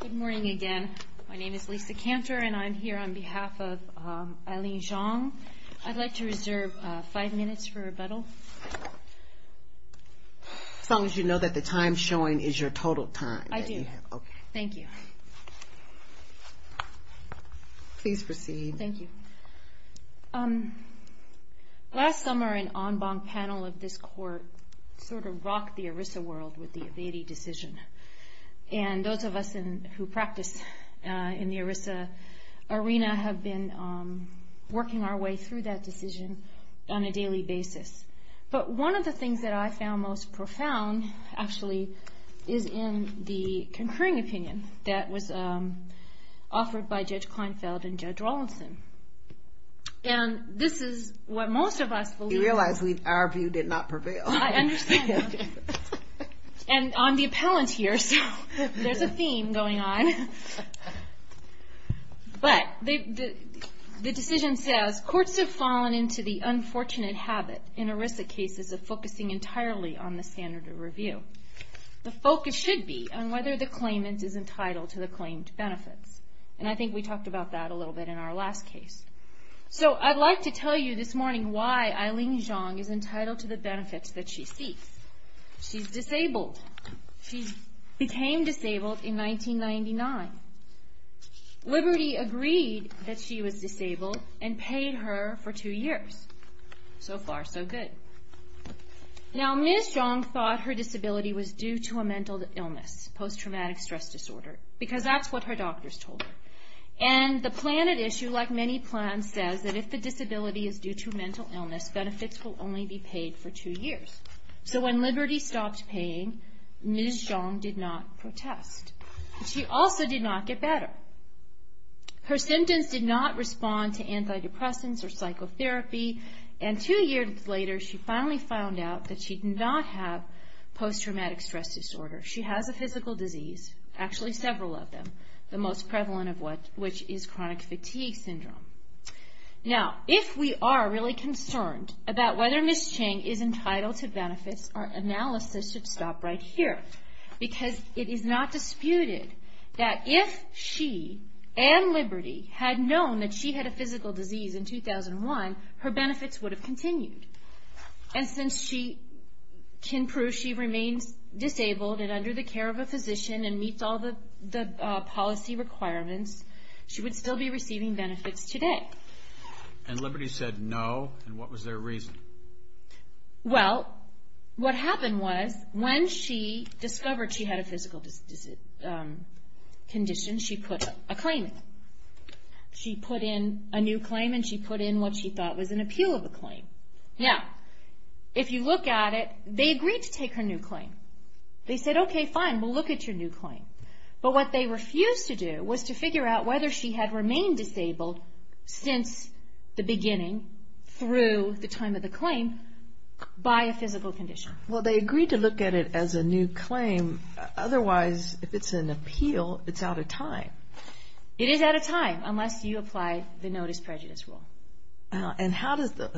Good morning again. My name is Lisa Cantor and I'm here on behalf of Eileen Zhang. I'd like to reserve five minutes for rebuttal. As long as you know that the time showing is your total time. I do. Thank you. Please proceed. Thank you. Last summer, an en banc panel of this court sort of rocked the ERISA world with the Avedi decision. And those of us who practice in the ERISA arena have been working our way through that decision on a daily basis. But one of the things that I found most profound actually is in the concurring opinion that was offered by Judge Kleinfeld and Judge Rawlinson. And this is what most of us believe. You realize our view did not prevail. I understand. And I'm the appellant here, so there's a theme going on. But the decision says courts have fallen into the unfortunate habit in ERISA cases of focusing entirely on the standard of review. The focus should be on whether the claimant is entitled to the claimed benefits. And I think we talked about that a little bit in our last case. So I'd like to tell you this morning why Eileen Zhang is entitled to the benefits that she seeks. She's disabled. She became disabled in 1999. Liberty agreed that she was disabled and paid her for two years. So far, so good. Now Ms. Zhang thought her disability was due to a mental illness, post-traumatic stress disorder, because that's what her doctors told her. And the plan at issue, like many plans, says that if the disability is due to mental illness, benefits will only be paid for two years. So when Liberty stopped paying, Ms. Zhang did not protest. She also did not get better. Her symptoms did not respond to antidepressants or psychotherapy. And two years later, she finally found out that she did not have post-traumatic stress disorder. She has a physical disease, actually several of them, the most prevalent of which is chronic fatigue syndrome. Now if we are really concerned about whether Ms. Zhang is entitled to benefits, our analysis should stop right here. Because it is not disputed that if she and Liberty had known that she had a physical disease in 2001, her benefits would have continued. And since she can prove she remains disabled and under the care of a physician and meets all the policy requirements, she would still be receiving benefits today. And Liberty said no, and what was their reason? Well, what happened was, when she discovered she had a physical condition, she put a claim in. She put in a new claim and she put in what she thought was an appeal of a claim. Now, if you look at it, they agreed to take her new claim. They said, okay, fine, we'll look at your new claim. But what they refused to do was to figure out whether she had remained disabled since the beginning, through the time of the claim, by a physical condition. Well, they agreed to look at it as a new claim, otherwise if it's an appeal, it's out of time. It is out of time, unless you apply the Notice Prejudice Rule. And how does the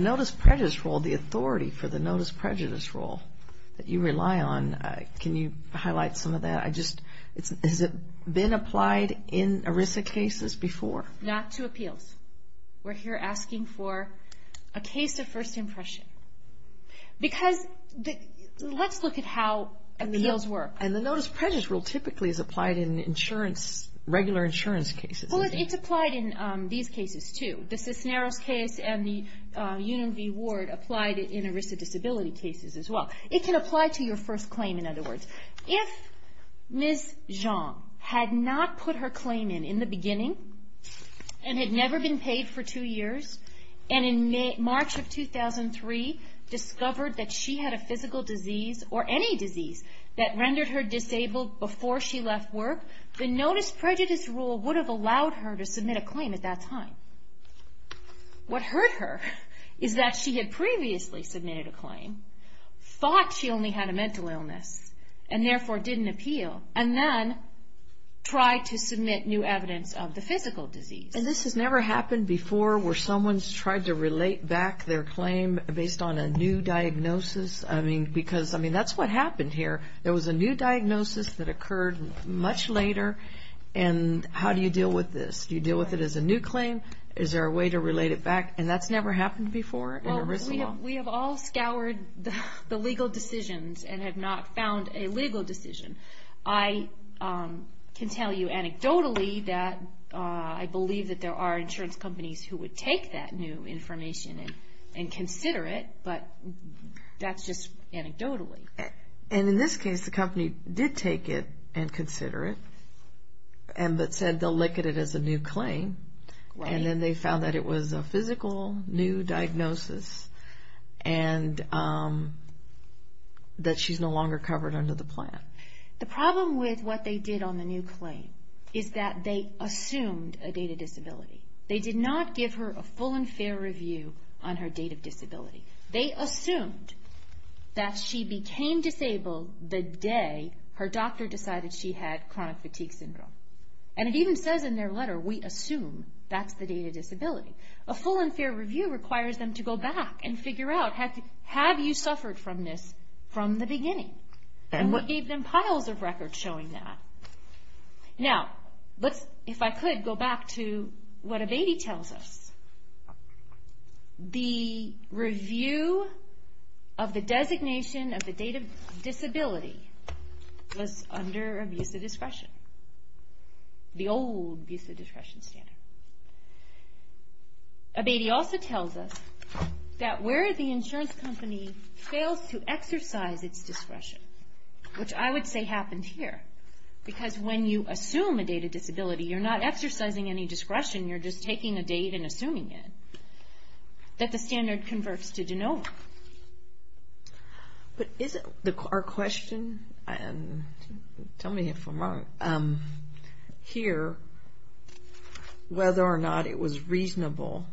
Notice Prejudice Rule, the authority for the Notice Prejudice Rule that you rely on, can you highlight some of that? Has it been applied in ERISA cases before? Not to appeals. We're here asking for a case of first impression. Because let's look at how appeals work. And the Notice Prejudice Rule typically is applied in insurance, regular insurance cases. Well, it's applied in these cases, too. The Cisneros case and the Union V. Ward applied it in ERISA disability cases as well. It can apply to your first claim, in other words. If Ms. Zhang had not put her claim in in the beginning, and had never been paid for two years, and in March of 2003 discovered that she had a physical disease or any disease that rendered her disabled before she left work, the Notice Prejudice Rule would have allowed her to submit a claim at that time. What hurt her is that she had previously submitted a claim, thought she only had a mental illness, and therefore didn't appeal, and then tried to submit new evidence of the physical disease. And this has never happened before where someone's tried to relate back their claim based on a new diagnosis. I mean, because that's what happened here. There was a new diagnosis that occurred much later. And how do you deal with this? Do you deal with it as a new claim? Is there a way to relate it back? And that's never happened before in ERISA law. We have all scoured the legal decisions and have not found a legal decision. I can tell you anecdotally that I believe that there are insurance companies who would take that new information and consider it, but that's just anecdotally. And in this case, the company did take it and consider it, but said they'll look at it as a new claim. And then they found that it was a physical new diagnosis and that she's no longer covered under the plan. The problem with what they did on the new claim is that they assumed a date of disability. They did not give her a full and fair review on her date of disability. They assumed that she became disabled the day her doctor decided she had chronic fatigue syndrome. And it even says in their letter, we assume that's the date of disability. A full and fair review requires them to go back and figure out, have you suffered from this from the beginning? And we gave them piles of records showing that. Now, if I could go back to what Abatey tells us. The review of the designation of the date of disability was under abuse of discretion, the old abuse of discretion standard. Abatey also tells us that where the insurance company fails to exercise its discretion, which I would say happened here, because when you assume a date of disability, you're not exercising any discretion, you're just taking a date and assuming it, that the standard converts to Genova. But isn't our question, and tell me if I'm wrong, here, whether or not Genova was reasonable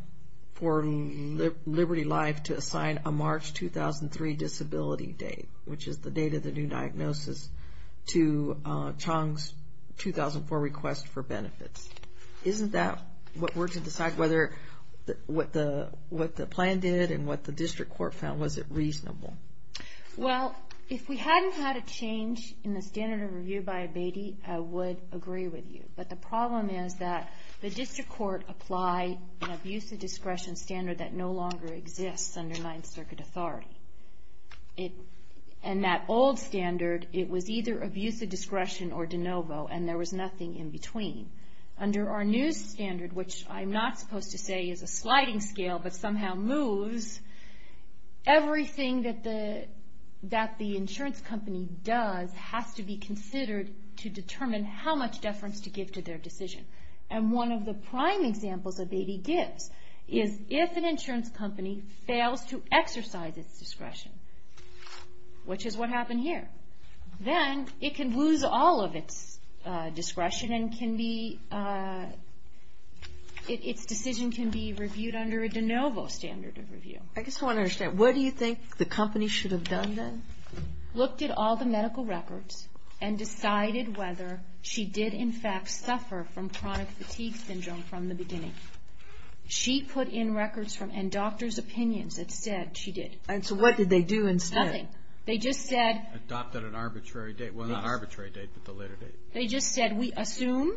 for Liberty Life to assign a March 2003 disability date, which is the date of the new diagnosis, to Chong's 2004 request for benefits. Isn't that what we're to decide, whether what the plan did and what the district court found, was it reasonable? Well, if we hadn't had a change in the standard of review by Abatey, I would agree with you. But the problem is that the district court applied an abuse of discretion standard that no longer exists under Ninth Circuit authority. And that old standard, it was either abuse of discretion or Genova, and there was nothing in between. Under our new standard, which I'm not supposed to say is a sliding scale, but somehow moves, everything that the insurance company does has to be considered to determine how much deference to give to their decision. And one of the prime examples Abatey gives is if an insurance company fails to exercise its discretion, which is what happened here, then it can lose all of its discretion and can be, its decision can be reviewed under a Genova standard of review. I just want to understand, what do you think the company should have done then? Looked at all the medical records and decided whether she did in fact suffer from chronic fatigue syndrome from the beginning. She put in records from, and doctor's opinions that said she did. And so what did they do instead? Nothing. They just said. Adopted an arbitrary date. Well, not arbitrary date, but the later date. They just said, we assume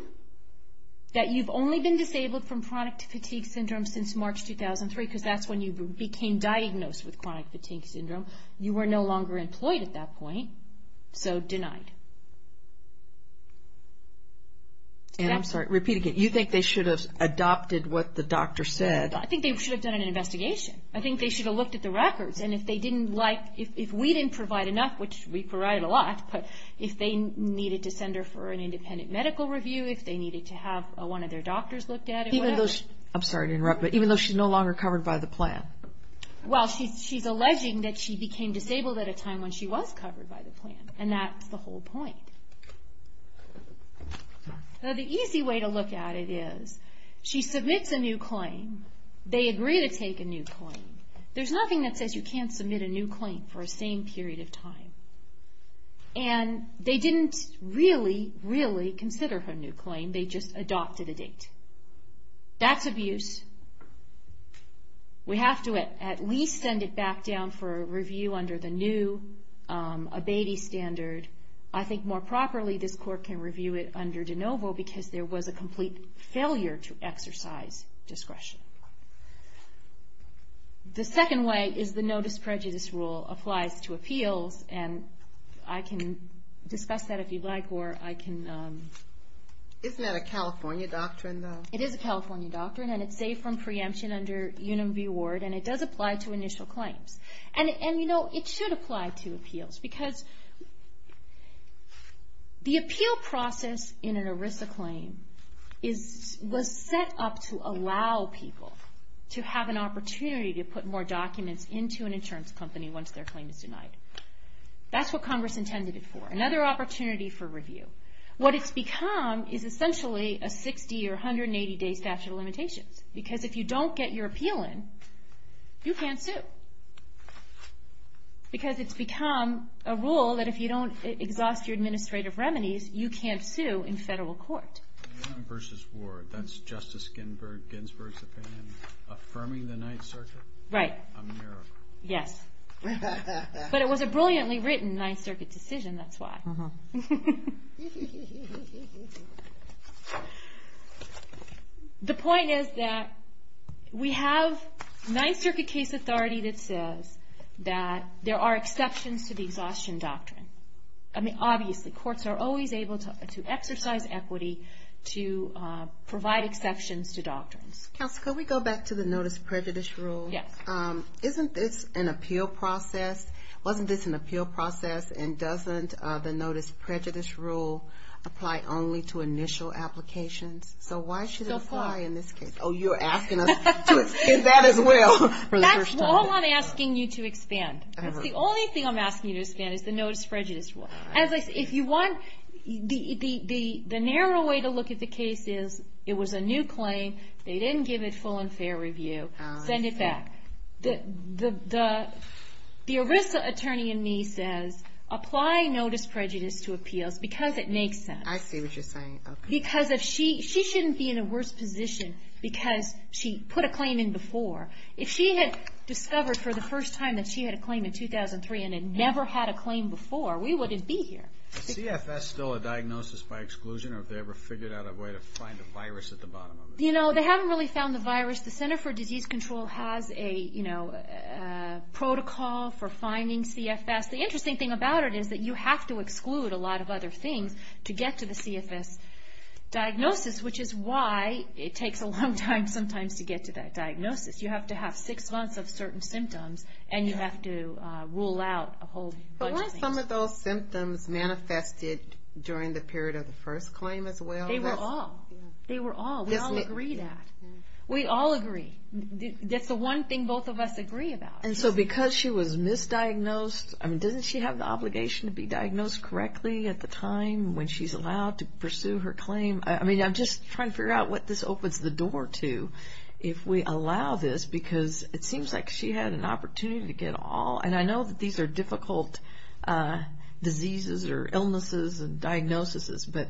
that you've only been disabled from chronic fatigue syndrome since March 2003, because that's when you became diagnosed with chronic fatigue syndrome. You were no longer employed at that point, so denied. And I'm sorry, repeat again. You think they should have adopted what the doctor said? I think they should have done an investigation. I think they should have looked at the records. And if they didn't like, if we didn't provide enough, which we provided a lot, but if they needed to send her for an independent medical review, if they needed to have one of their doctors look at it, whatever. I'm sorry to interrupt, but even though she's no longer covered by the plan? Well, she's alleging that she became disabled at a time when she was covered by the plan. And that's the whole point. Now, the easy way to look at it is, she submits a new claim. They agree to take a new claim. There's nothing that says you can't submit a new claim for the same period of time. And they didn't really, really consider her new claim. They just adopted a date. That's abuse. We have to at least send it back down for a review under the new abatis standard. I think more properly, this court can review it under de novo, because there was a complete failure to exercise discretion. The second way is the no disprejudice rule applies to appeals. And I can discuss that if you'd like, or I can... Isn't that a California doctrine, though? It is a California doctrine, and it's safe from preemption under UNMV ward, and it does apply to initial claims. And you know, it should apply to appeals, because the appeal process in an ERISA claim was set up to allow people to have an opportunity to put more documents into an insurance company once their claim is denied. That's what Congress intended it for. Another opportunity for review. What it's become is essentially a 60 or 180 day statute of limitations, because if you don't get your appeal in, you can't sue. Because it's become a rule that if you don't exhaust your administrative remedies, you can't sue in federal court. UNMV ward, that's Justice Ginsburg's opinion, affirming the Ninth Circuit? Right. A miracle. Yes. But it was a brilliantly written Ninth Circuit decision, that's why. The point is that we have Ninth Circuit case authority that says that there are exceptions to the exhaustion doctrine. I mean, obviously, courts are always able to exercise equity to provide exceptions to doctrines. Counsel, could we go back to the notice of privilege rule? Yes. Isn't this an appeal process? Wasn't this an appeal process, and doesn't the notice of prejudice rule apply only to initial applications? So why should it apply in this case? Oh, you're asking us to expand that as well, for the first time. That's all I'm asking you to expand. The only thing I'm asking you to expand is the notice of prejudice rule. If you want, the narrow way to look at the case is, it was a new claim, they didn't give it full and fair review. Send it back. The ERISA attorney in me says, apply notice of prejudice to appeals because it makes sense. I see what you're saying, okay. Because she shouldn't be in a worse position because she put a claim in before. If she had discovered for the first time that she had a claim in 2003 and had never had a claim before, we wouldn't be here. Is CFS still a diagnosis by exclusion, or have they ever figured out a way to find a virus at the bottom of it? You know, they haven't really found the virus. The Center for Disease Control has a protocol for finding CFS. The interesting thing about it is that you have to exclude a lot of other things to get to the CFS diagnosis, which is why it takes a long time sometimes to get to that diagnosis. You have to have six months of certain symptoms, and you have to rule out a whole bunch of things. But weren't some of those symptoms manifested during the period of the first claim as well? They were all. They were all. We all agree that. We all agree. That's the one thing both of us agree about. And so because she was misdiagnosed, I mean, doesn't she have the obligation to be diagnosed correctly at the time when she's allowed to pursue her claim? I mean, I'm just trying to figure out what this opens the door to, if we allow this, because it seems like she had an opportunity to get all, and I know that these are difficult diseases or illnesses and diagnoses, but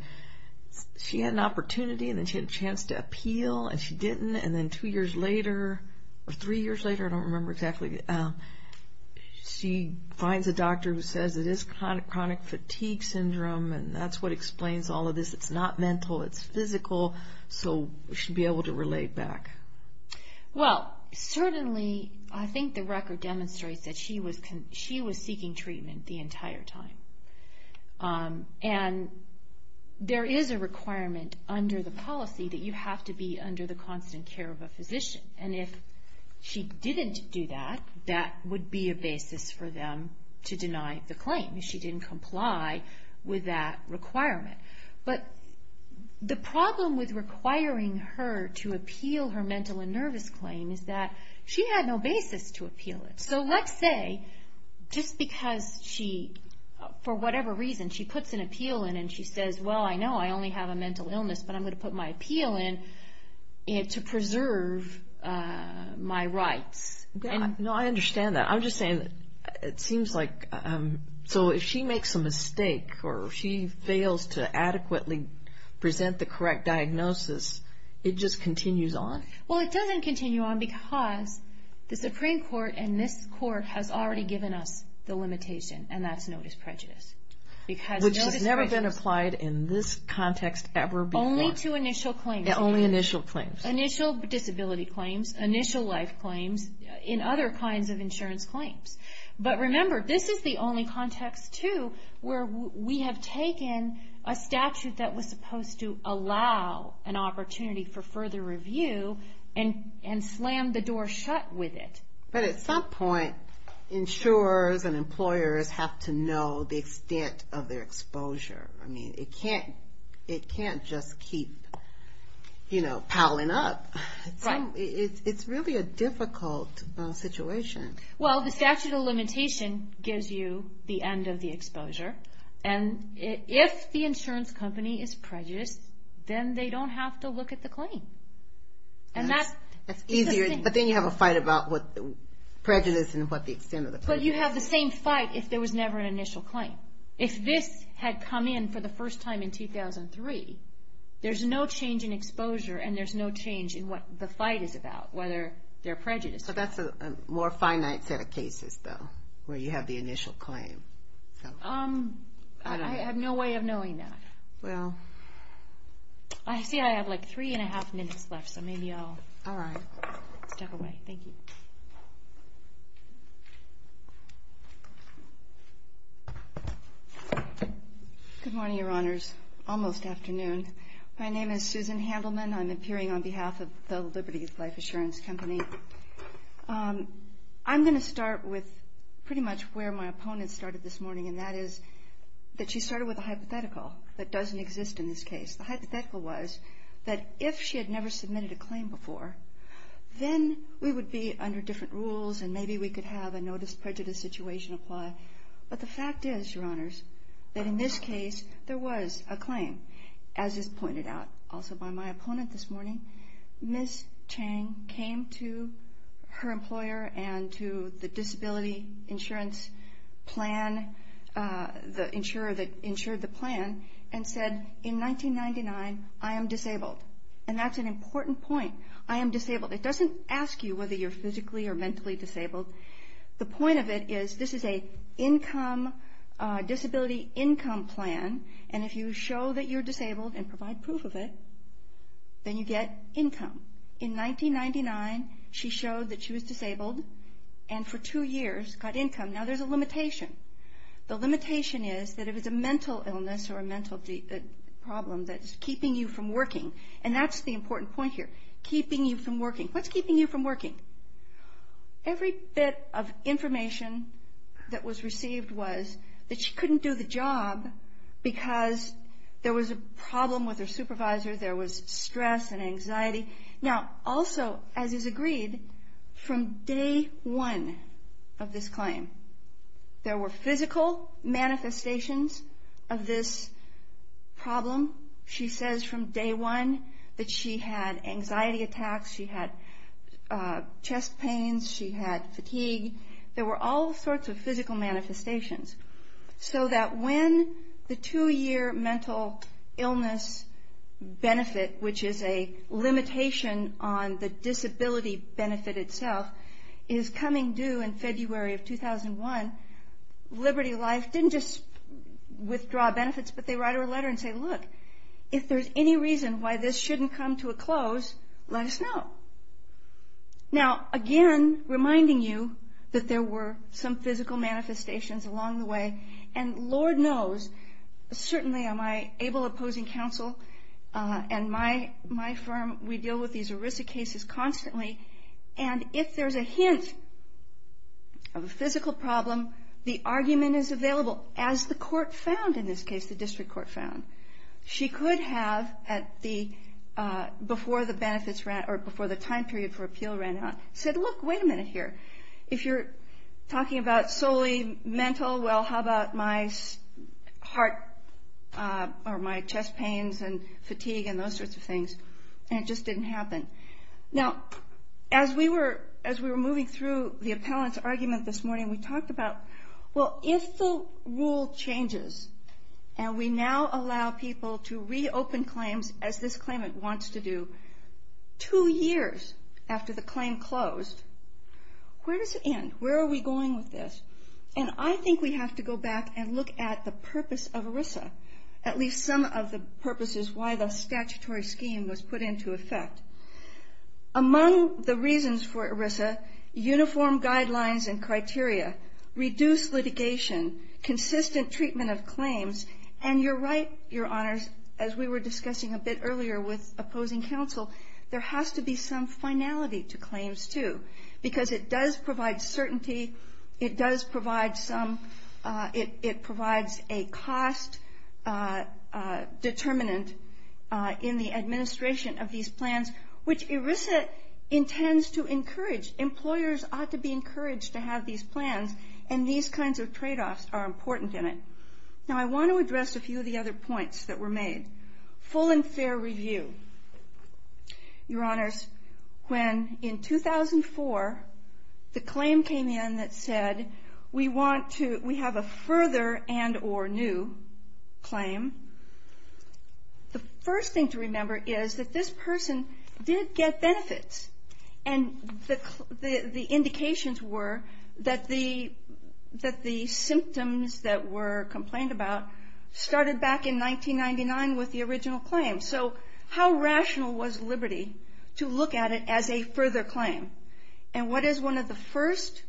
she had an opportunity, and then she had a chance to appeal, and she didn't, and then two years later, or three years later, I don't remember exactly, she finds a doctor who says it is chronic fatigue syndrome, and that's what explains all of this. It's not mental, it's physical, so she'll be able to relate back. Well, certainly, I think the record demonstrates that she was seeking treatment the entire time, and there is a requirement under the policy that you have to be under the constant care of a physician, and if she didn't do that, that would be a basis for them to deny the claim if she didn't comply with that requirement. But the problem with requiring her to appeal her mental and nervous claim is that she had no basis to appeal it. So let's say, just because she, for whatever reason, she puts an appeal in, and she says, well, I know I only have a mental illness, but I'm going to put my appeal in to preserve my rights. No, I understand that. I'm just saying, it seems like, so if she makes a mistake, or she fails to adequately present the correct diagnosis, it just continues on? Well, it doesn't continue on, because the Supreme Court and this Court has already given us the limitation, and that's notice prejudice. Which has never been applied in this context ever before. Only to initial claims. Only initial claims. Initial disability claims, initial life claims, and other kinds of insurance claims. But remember, this is the only context, too, where we have taken a statute that was supposed to allow an opportunity for further review, and slammed the door shut with it. But at some point, insurers and employers have to know the extent of their exposure. I mean, it can't just keep, you know, piling up. It's really a difficult situation. Well, the statute of limitation gives you the end of the exposure, and if the insurance company is prejudiced, then they don't have to look at the claim. That's easier, but then you have a fight about what the prejudice and what the extent of the prejudice is. But you have the same fight if there was never an initial claim. If this had come in for the first time in 2003, there's no change in exposure, and there's no change in what the fight is about, whether they're prejudiced or not. But that's a more finite set of cases, though, where you have the initial claim. I have no way of knowing that. Well... I see I have like three and a half minutes left, so maybe I'll step away. Thank you. Good morning, Your Honors. Almost afternoon. My name is Susan Handelman. I'm appearing on behalf of the Liberties Life Insurance Company. I'm going to start with pretty much where my opponent started this morning, and that is that she started with a hypothetical that doesn't exist in this case. The hypothetical was that if she had never submitted a claim before, then we would be under different rules, and maybe we could have a notice prejudice situation apply. But the fact is, Your Honors, that in this case, there was a claim, as is pointed out also by my opponent this morning. Ms. Chang came to her employer and to the disability insurance plan, the insurer that insured the plan, and said, in 1999, I am disabled. And that's an important point. I am disabled. It doesn't ask you whether you're physically or mentally disabled. The point of it is, this is a disability income plan, and if you show that you're disabled and provide proof of it, then you get income. In 1999, she showed that she was disabled, and for two years got income. Now, there's a limitation. The limitation is that if it's a mental illness or a mental problem that is keeping you from working, and that's the important point here, keeping you from working. What's keeping you from working? Every bit of information that was received was that she couldn't do the job because there was a problem with her supervisor. There was stress and anxiety. Now, also, as is agreed, from day one of this claim, there were physical manifestations of this problem. She says from day one that she had anxiety attacks. She had chest pains. She had fatigue. There were all sorts of physical manifestations, so that when the two-year mental illness benefit, which is a limitation on the disability benefit itself, is coming due in February of 2001, Liberty Life didn't just withdraw benefits, but they write her a letter and say, Look, if there's any reason why this shouldn't come to a close, let us know. Now, again, reminding you that there were some physical manifestations along the way, and Lord knows, certainly on my able opposing counsel and my firm, we deal with these ERISA cases constantly, and if there's a hint of a physical problem, the argument is available, as the court found in this case, the district court found. She could have, before the time period for appeal ran out, said, Look, wait a minute here. If you're talking about solely mental, well, how about my chest pains and fatigue and those sorts of things, and it just didn't happen. Now, as we were moving through the appellant's argument this morning, we talked about, Well, if the rule changes and we now allow people to reopen claims as this claimant wants to do, two years after the claim closed, where does it end? Where are we going with this? And I think we have to go back and look at the purpose of ERISA, at least some of the purposes why the statutory scheme was put into effect. Among the reasons for ERISA, uniform guidelines and criteria, reduced litigation, consistent treatment of claims, and you're right, Your Honors, as we were discussing a bit earlier with opposing counsel, there has to be some finality to claims, too, because it does provide certainty. It does provide some, it provides a cost determinant in the administration of these plans, which ERISA intends to encourage. Employers ought to be encouraged to have these plans, and these kinds of tradeoffs are important in it. Now, I want to address a few of the other points that were made. Full and fair review. Your Honors, when in 2004 the claim came in that said, we want to, we have a further and or new claim, the first thing to remember is that this person did get benefits, and the indications were that the, that the symptoms that were complained about started back in 1999 with the original claim. So how rational was Liberty to look at it as a further claim? And what is one of the first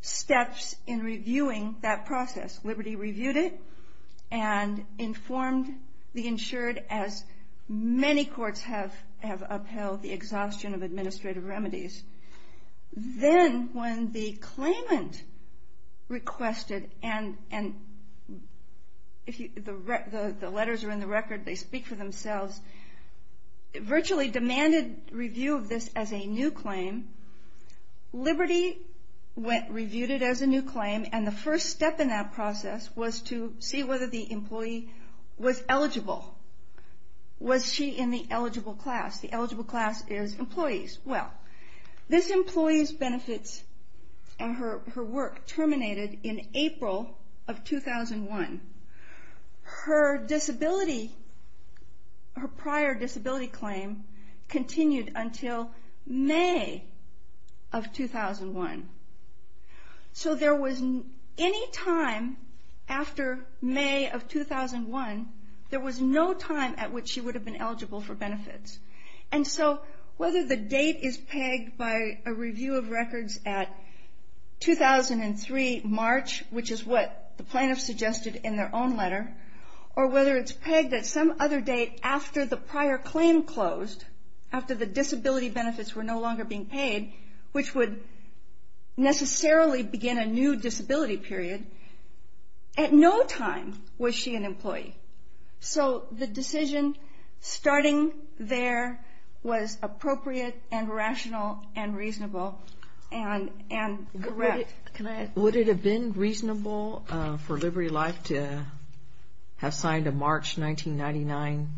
steps in reviewing that process? Liberty reviewed it and informed the insured, as many courts have upheld, the exhaustion of administrative remedies. Then when the claimant requested, and the letters are in the record, they speak for themselves, virtually demanded review of this as a new claim, Liberty reviewed it as a new claim, and the first step in that process was to see whether the employee was eligible. Was she in the eligible class? The eligible class is employees. Well, this employee's benefits and her work terminated in April of 2001. Her disability, her prior disability claim continued until May of 2001. So there was any time after May of 2001, there was no time at which she would have been eligible for benefits. And so whether the date is pegged by a review of records at 2003, March, which is what the plaintiffs suggested in their own letter, or whether it's pegged at some other date after the prior claim closed, after the disability benefits were no longer being paid, which would necessarily begin a new disability period, at no time was she an employee. So the decision starting there was appropriate and rational and reasonable and correct. Would it have been reasonable for Liberty Life to have signed a March 1999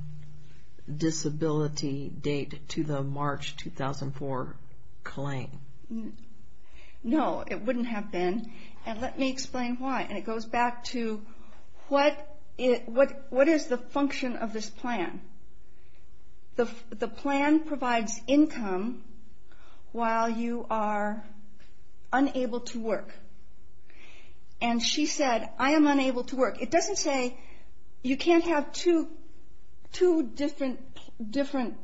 disability date to the March 2004 claim? No, it wouldn't have been, and let me explain why. And it goes back to what is the function of this plan? The plan provides income while you are unable to work. And she said, I am unable to work. It doesn't say you can't have two different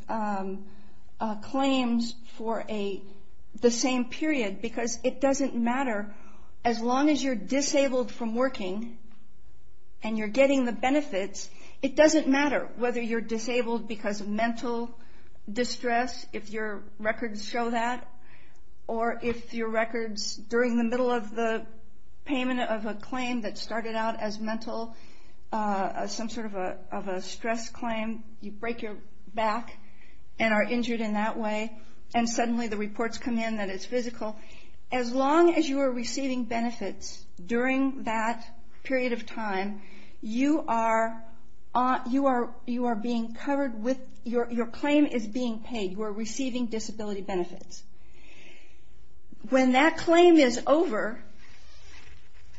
claims for the same period, because it doesn't matter, as long as you're disabled from working and you're getting the benefits, it doesn't matter whether you're disabled because of mental distress, if your records show that, or if your records during the middle of the payment of a claim that started out as mental, some sort of a stress claim, you break your back and are injured in that way, and suddenly the reports come in that it's physical, as long as you are receiving benefits during that period of time, your claim is being paid, you are receiving disability benefits. When that claim is over,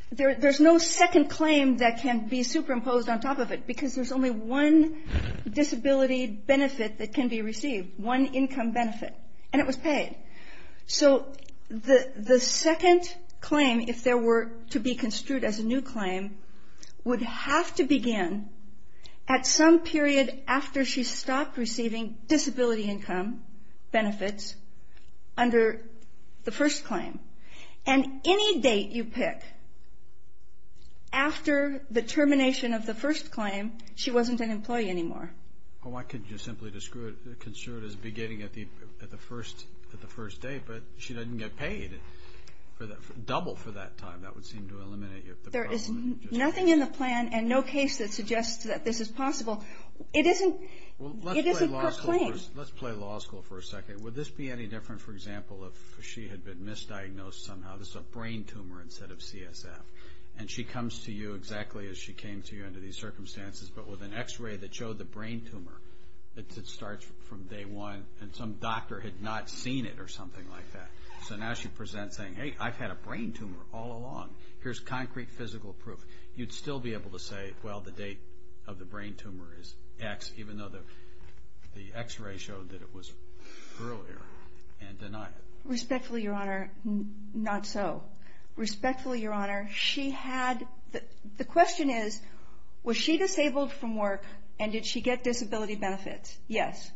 there's no second claim that can be superimposed on top of it, because there's only one disability benefit that can be received, one income benefit, and it was paid. So the second claim, if there were to be construed as a new claim, would have to begin at some period after she stopped receiving disability income benefits under the first claim. And any date you pick after the termination of the first claim, she wasn't an employee anymore. Well, why couldn't you simply construe it as beginning at the first date, but she doesn't get paid double for that time, that would seem to eliminate you. There is nothing in the plan and no case that suggests that this is possible. It is a good claim. Let's play law school for a second. Would this be any different, for example, if she had been misdiagnosed somehow, this is a brain tumor instead of CSF, and she comes to you exactly as she came to you under these circumstances, but with an x-ray that showed the brain tumor, it starts from day one, and some doctor had not seen it or something like that. So now she presents saying, hey, I've had a brain tumor all along, here's concrete physical proof. You'd still be able to say, well, the date of the brain tumor is X, even though the x-ray showed that it was earlier and denied it. Respectfully, Your Honor, not so. Respectfully, Your Honor, the question is, was she disabled from work and did she get disability benefits? Yes,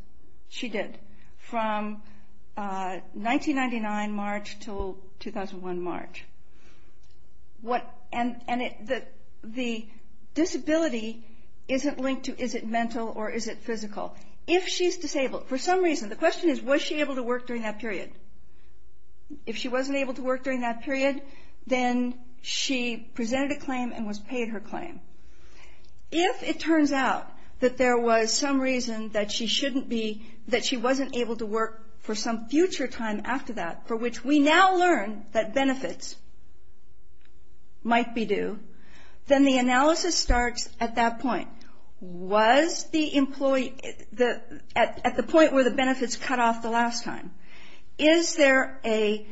she did, from 1999 March until 2001 March. And the disability isn't linked to is it mental or is it physical. If she's disabled, for some reason, the question is, was she able to work during that period? If she wasn't able to work during that period, then she presented a claim and was paid her claim. If it turns out that there was some reason that she wasn't able to work for some future time after that, for which we now learn that benefits might be due, then the analysis starts at that point. Was the employee at the point where the benefits cut off the last time? Is there a,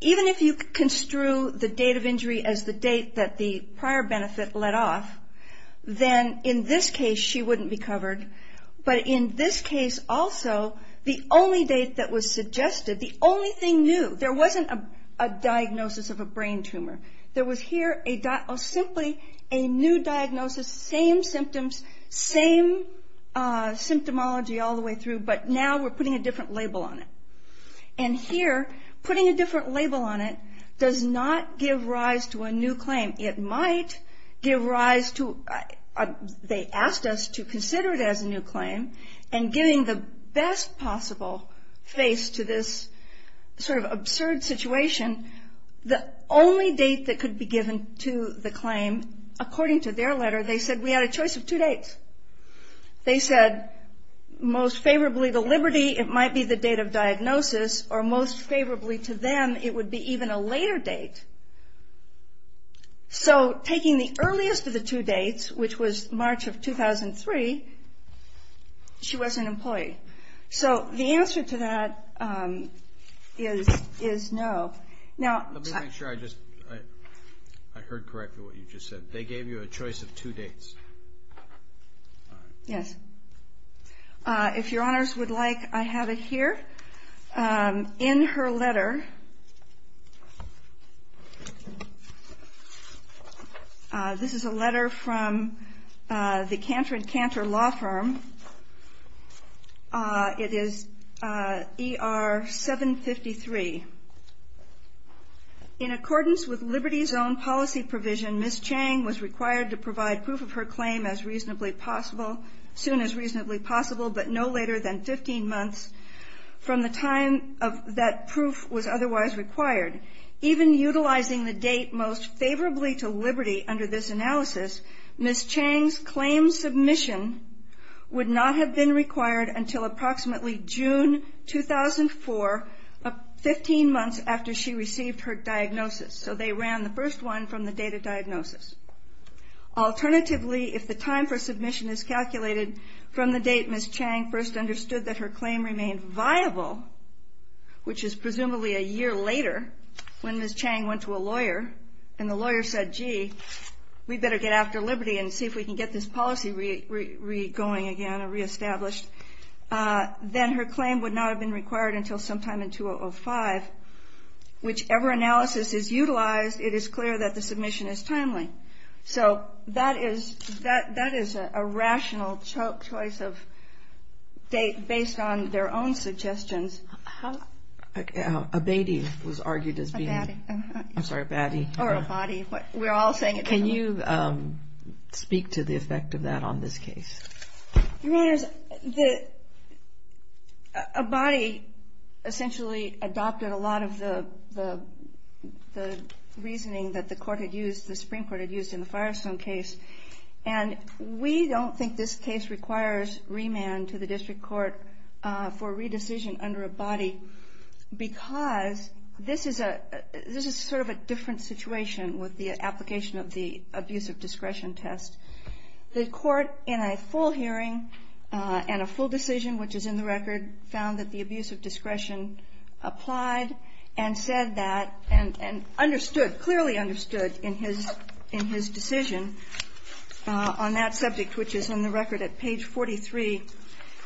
even if you construe the date of injury as the date that the prior benefit let off, then in this case she wouldn't be covered. But in this case also, the only date that was suggested, the only thing new, there wasn't a diagnosis of a brain tumor. There was here simply a new diagnosis, same symptoms, same symptomology all the way through, but now we're putting a different label on it. And here, putting a different label on it does not give rise to a new claim. It might give rise to, they asked us to consider it as a new claim, and giving the best possible face to this sort of absurd situation, the only date that could be given to the claim, according to their letter, they said we had a choice of two dates. They said most favorably the liberty, it might be the date of diagnosis, or most favorably to them it would be even a later date. So taking the earliest of the two dates, which was March of 2003, she wasn't employed. So the answer to that is no. Let me make sure I just, I heard correctly what you just said. They gave you a choice of two dates. Yes. If your honors would like, I have it here. In her letter, this is a letter from the Cantor & Cantor law firm. It is ER 753. In accordance with Liberty's own policy provision, Ms. Chang was required to provide proof of her claim as soon as reasonably possible, but no later than 15 months from the time that proof was otherwise required. Even utilizing the date most favorably to Liberty under this analysis, Ms. Chang's claim submission would not have been required until approximately June 2004, 15 months after she received her diagnosis. So they ran the first one from the date of diagnosis. Alternatively, if the time for submission is calculated from the date Ms. Chang first understood that her claim remained viable, which is presumably a year later when Ms. Chang went to a lawyer and the lawyer said, gee, we'd better get after Liberty and see if we can get this policy re-going again or re-established, then her claim would not have been required until sometime in 2005. Whichever analysis is utilized, it is clear that the submission is timely. So that is a rational choice of date based on their own suggestions. A BATI was argued as being ‑‑ A BATI. I'm sorry, a BATI. Or a BOTI. We're all saying a BOTI. Can you speak to the effect of that on this case? Your Honors, a BOTI essentially adopted a lot of the reasoning that the court had used, the Supreme Court had used in the Firestone case. And we don't think this case requires remand to the district court for re-decision under a BOTI because this is sort of a different situation with the application of the Abusive Discretion Test. The court in a full hearing and a full decision, which is in the record, found that the Abusive Discretion applied and said that and understood, clearly understood in his decision on that subject, which is in the record at page 43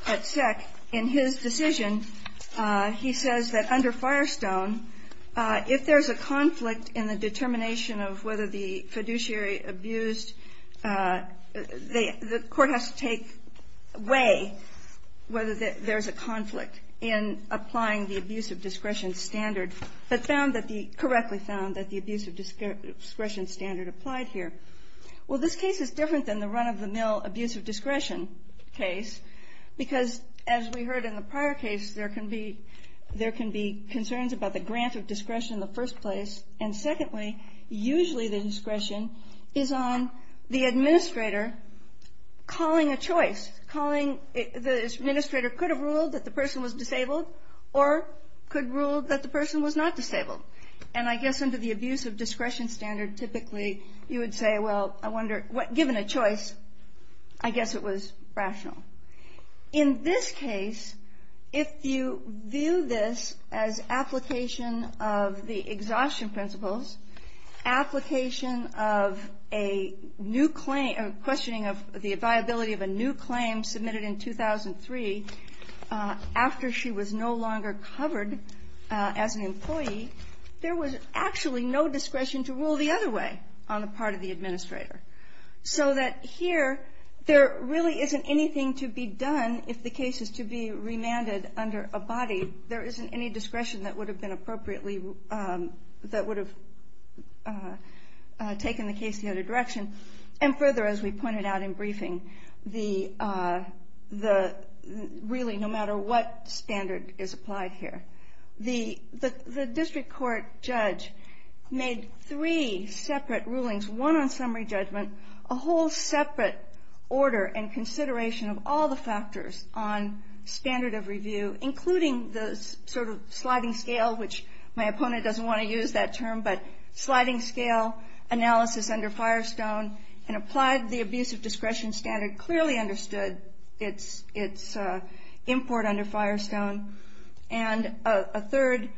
at SEC. In his decision, he says that under Firestone, if there's a conflict in the determination of whether the fiduciary abused, the court has to take away whether there's a conflict in applying the Abusive Discretion standard but found that the ‑‑ correctly found that the Abusive Discretion standard applied here. Well, this case is different than the run-of-the-mill Abusive Discretion case because, as we heard in the prior case, there can be concerns about the grant of discretion in the first place. And secondly, usually the discretion is on the administrator calling a choice, calling ‑‑ the administrator could have ruled that the person was disabled or could rule that the person was not disabled. And I guess under the Abusive Discretion standard, typically you would say, well, I wonder, given a choice, I guess it was rational. In this case, if you view this as application of the exhaustion principles, application of a new claim, questioning of the viability of a new claim submitted in 2003 after she was no longer covered as an employee, there was actually no discretion to rule the other way on the part of the administrator. So that here, there really isn't anything to be done if the case is to be remanded under a body. There isn't any discretion that would have been appropriately ‑‑ that would have taken the case the other direction. And further, as we pointed out in briefing, the ‑‑ really, no matter what standard is applied here, the district court judge made three separate rulings, one on summary judgment, a whole separate order and consideration of all the factors on standard of review, including the sort of sliding scale, which my opponent doesn't want to use that term, but sliding scale analysis under Firestone, and applied the Abusive Discretion standard, clearly understood its import under Firestone, and a third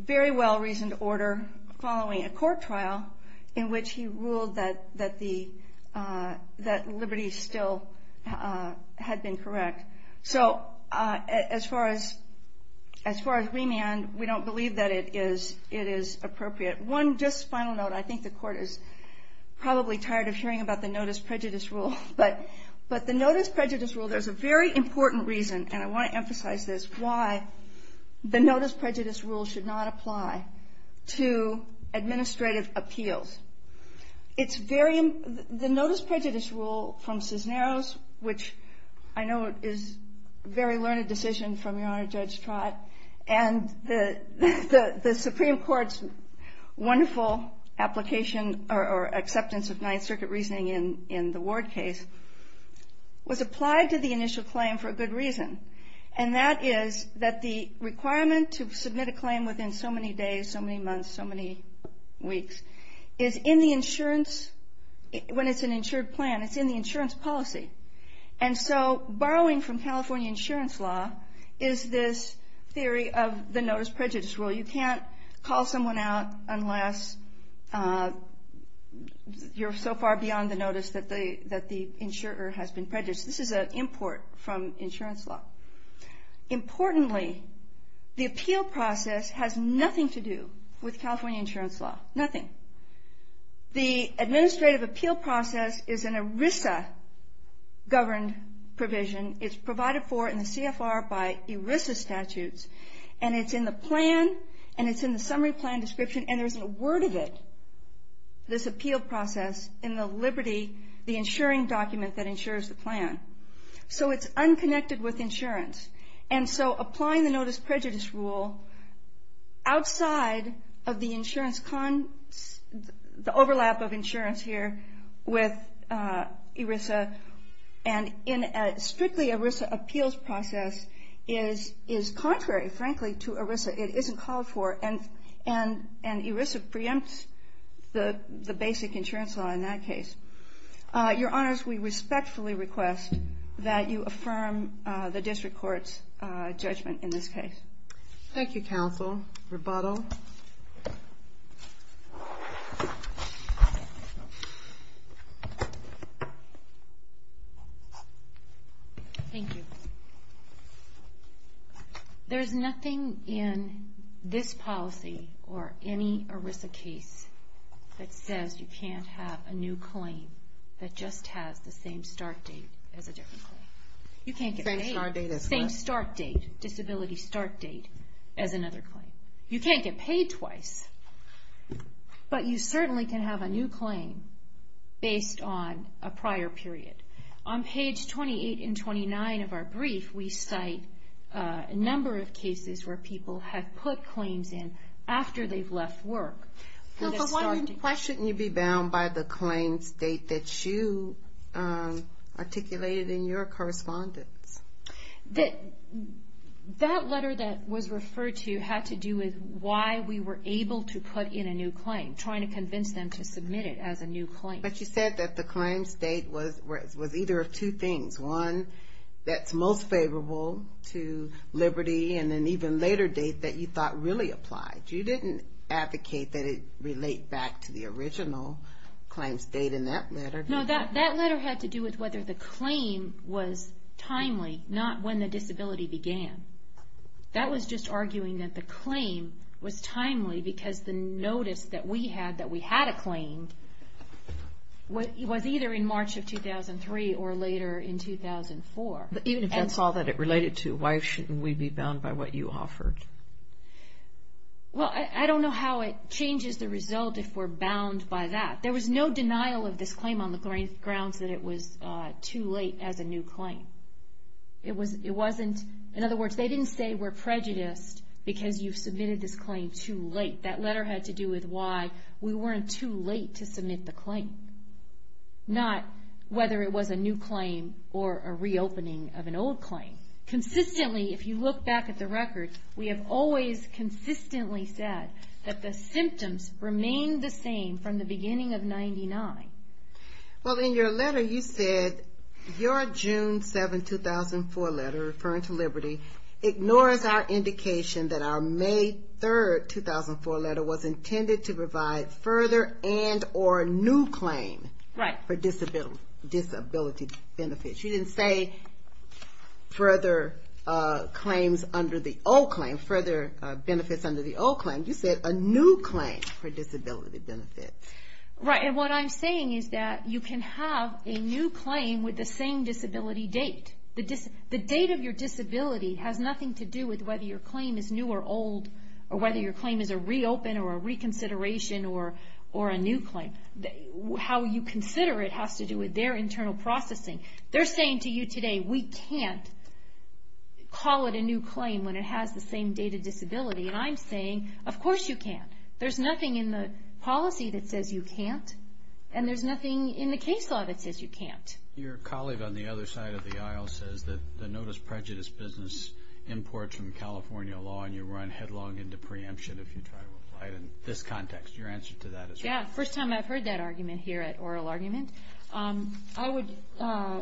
very well‑reasoned order following a court trial in which he ruled that liberty still had been correct. So as far as remand, we don't believe that it is appropriate. One just final note, I think the court is probably tired of hearing about the Notice Prejudice Rule, but the Notice Prejudice Rule, there's a very important reason, and I want to emphasize this, is why the Notice Prejudice Rule should not apply to administrative appeals. It's very ‑‑ the Notice Prejudice Rule from Cisneros, which I know is a very learned decision from Your Honor Judge Trott, and the Supreme Court's wonderful application or acceptance of Ninth Circuit reasoning in the Ward case, was applied to the initial claim for a good reason, and that is that the requirement to submit a claim within so many days, so many months, so many weeks, is in the insurance, when it's an insured plan, it's in the insurance policy. And so borrowing from California insurance law is this theory of the Notice Prejudice Rule. You can't call someone out unless you're so far beyond the notice that the insurer has been prejudiced. This is an import from insurance law. Importantly, the appeal process has nothing to do with California insurance law. Nothing. The administrative appeal process is an ERISA governed provision. It's provided for in the CFR by ERISA statutes, and it's in the plan, and it's in the summary plan description, and there isn't a word of it, this appeal process, in the liberty, the insuring document that insures the plan. So it's unconnected with insurance. And so applying the Notice Prejudice Rule outside of the overlap of insurance here with ERISA, and in a strictly ERISA appeals process, is contrary, frankly, to ERISA. It isn't called for, and ERISA preempts the basic insurance law in that case. Your Honors, we respectfully request that you affirm the district court's judgment in this case. Thank you, counsel. Rebuttal. Thank you. There is nothing in this policy, or any ERISA case, that says you can't have a new claim that just has the same start date as a different claim. You can't get paid. Same start date as what? Same start date, disability start date, as another claim. You can't get paid twice, but you certainly can have a new claim based on a prior period. On page 28 and 29 of our brief, we cite a number of cases where people have put claims in after they've left work. Why shouldn't you be bound by the claim state that you articulated in your correspondence? That letter that was referred to had to do with why we were able to put in a new claim, trying to convince them to submit it as a new claim. But you said that the claim state was either of two things. One, that's most favorable to liberty, and an even later date that you thought really applied. You didn't advocate that it relate back to the original claim state in that letter. No, that letter had to do with whether the claim was timely, not when the disability began. That was just arguing that the claim was timely because the notice that we had, that we had a claim, was either in March of 2003 or later in 2004. Even if that's all that it related to, why shouldn't we be bound by what you offered? Well, I don't know how it changes the result if we're bound by that. There was no denial of this claim on the grounds that it was too late as a new claim. In other words, they didn't say we're prejudiced because you've submitted this claim too late. That letter had to do with why we weren't too late to submit the claim, not whether it was a new claim or a reopening of an old claim. Consistently, if you look back at the record, we have always consistently said that the symptoms remained the same from the beginning of 99. Well, in your letter you said your June 7, 2004 letter referring to liberty ignores our indication that our May 3, 2004 letter was intended to provide further and or a new claim for disability benefits. You didn't say further claims under the old claim, further benefits under the old claim. You said a new claim for disability benefits. Right, and what I'm saying is that you can have a new claim with the same disability date. The date of your disability has nothing to do with whether your claim is new or old or whether your claim is a reopen or a reconsideration or a new claim. How you consider it has to do with their internal processing. They're saying to you today, we can't call it a new claim when it has the same date of disability, and I'm saying, of course you can. There's nothing in the policy that says you can't, and there's nothing in the case law that says you can't. Your colleague on the other side of the aisle says that the notice prejudice business imports from California law and you run headlong into preemption if you try to apply it in this context. Your answer to that is correct. Yeah, first time I've heard that argument here at Oral Argument. I would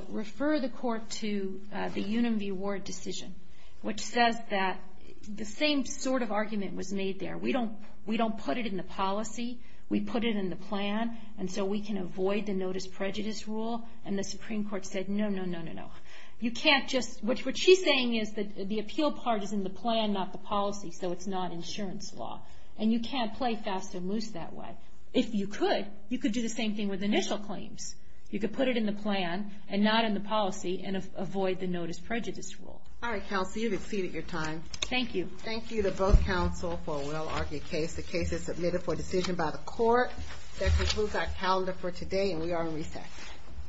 refer the court to the Uniview Ward decision, which says that the same sort of argument was made there. We don't put it in the policy. We put it in the plan, and so we can avoid the notice prejudice rule and the Supreme Court said, no, no, no, no, no. You can't just, what she's saying is that the appeal part is in the plan, not the policy, so it's not insurance law, and you can't play fast or moose that way. If you could, you could do the same thing with initial claims. You could put it in the plan and not in the policy and avoid the notice prejudice rule. All right, counsel, you've exceeded your time. Thank you. Thank you to both counsel for a well-argued case. The case is submitted for decision by the court. That concludes our calendar for today, and we are in recess.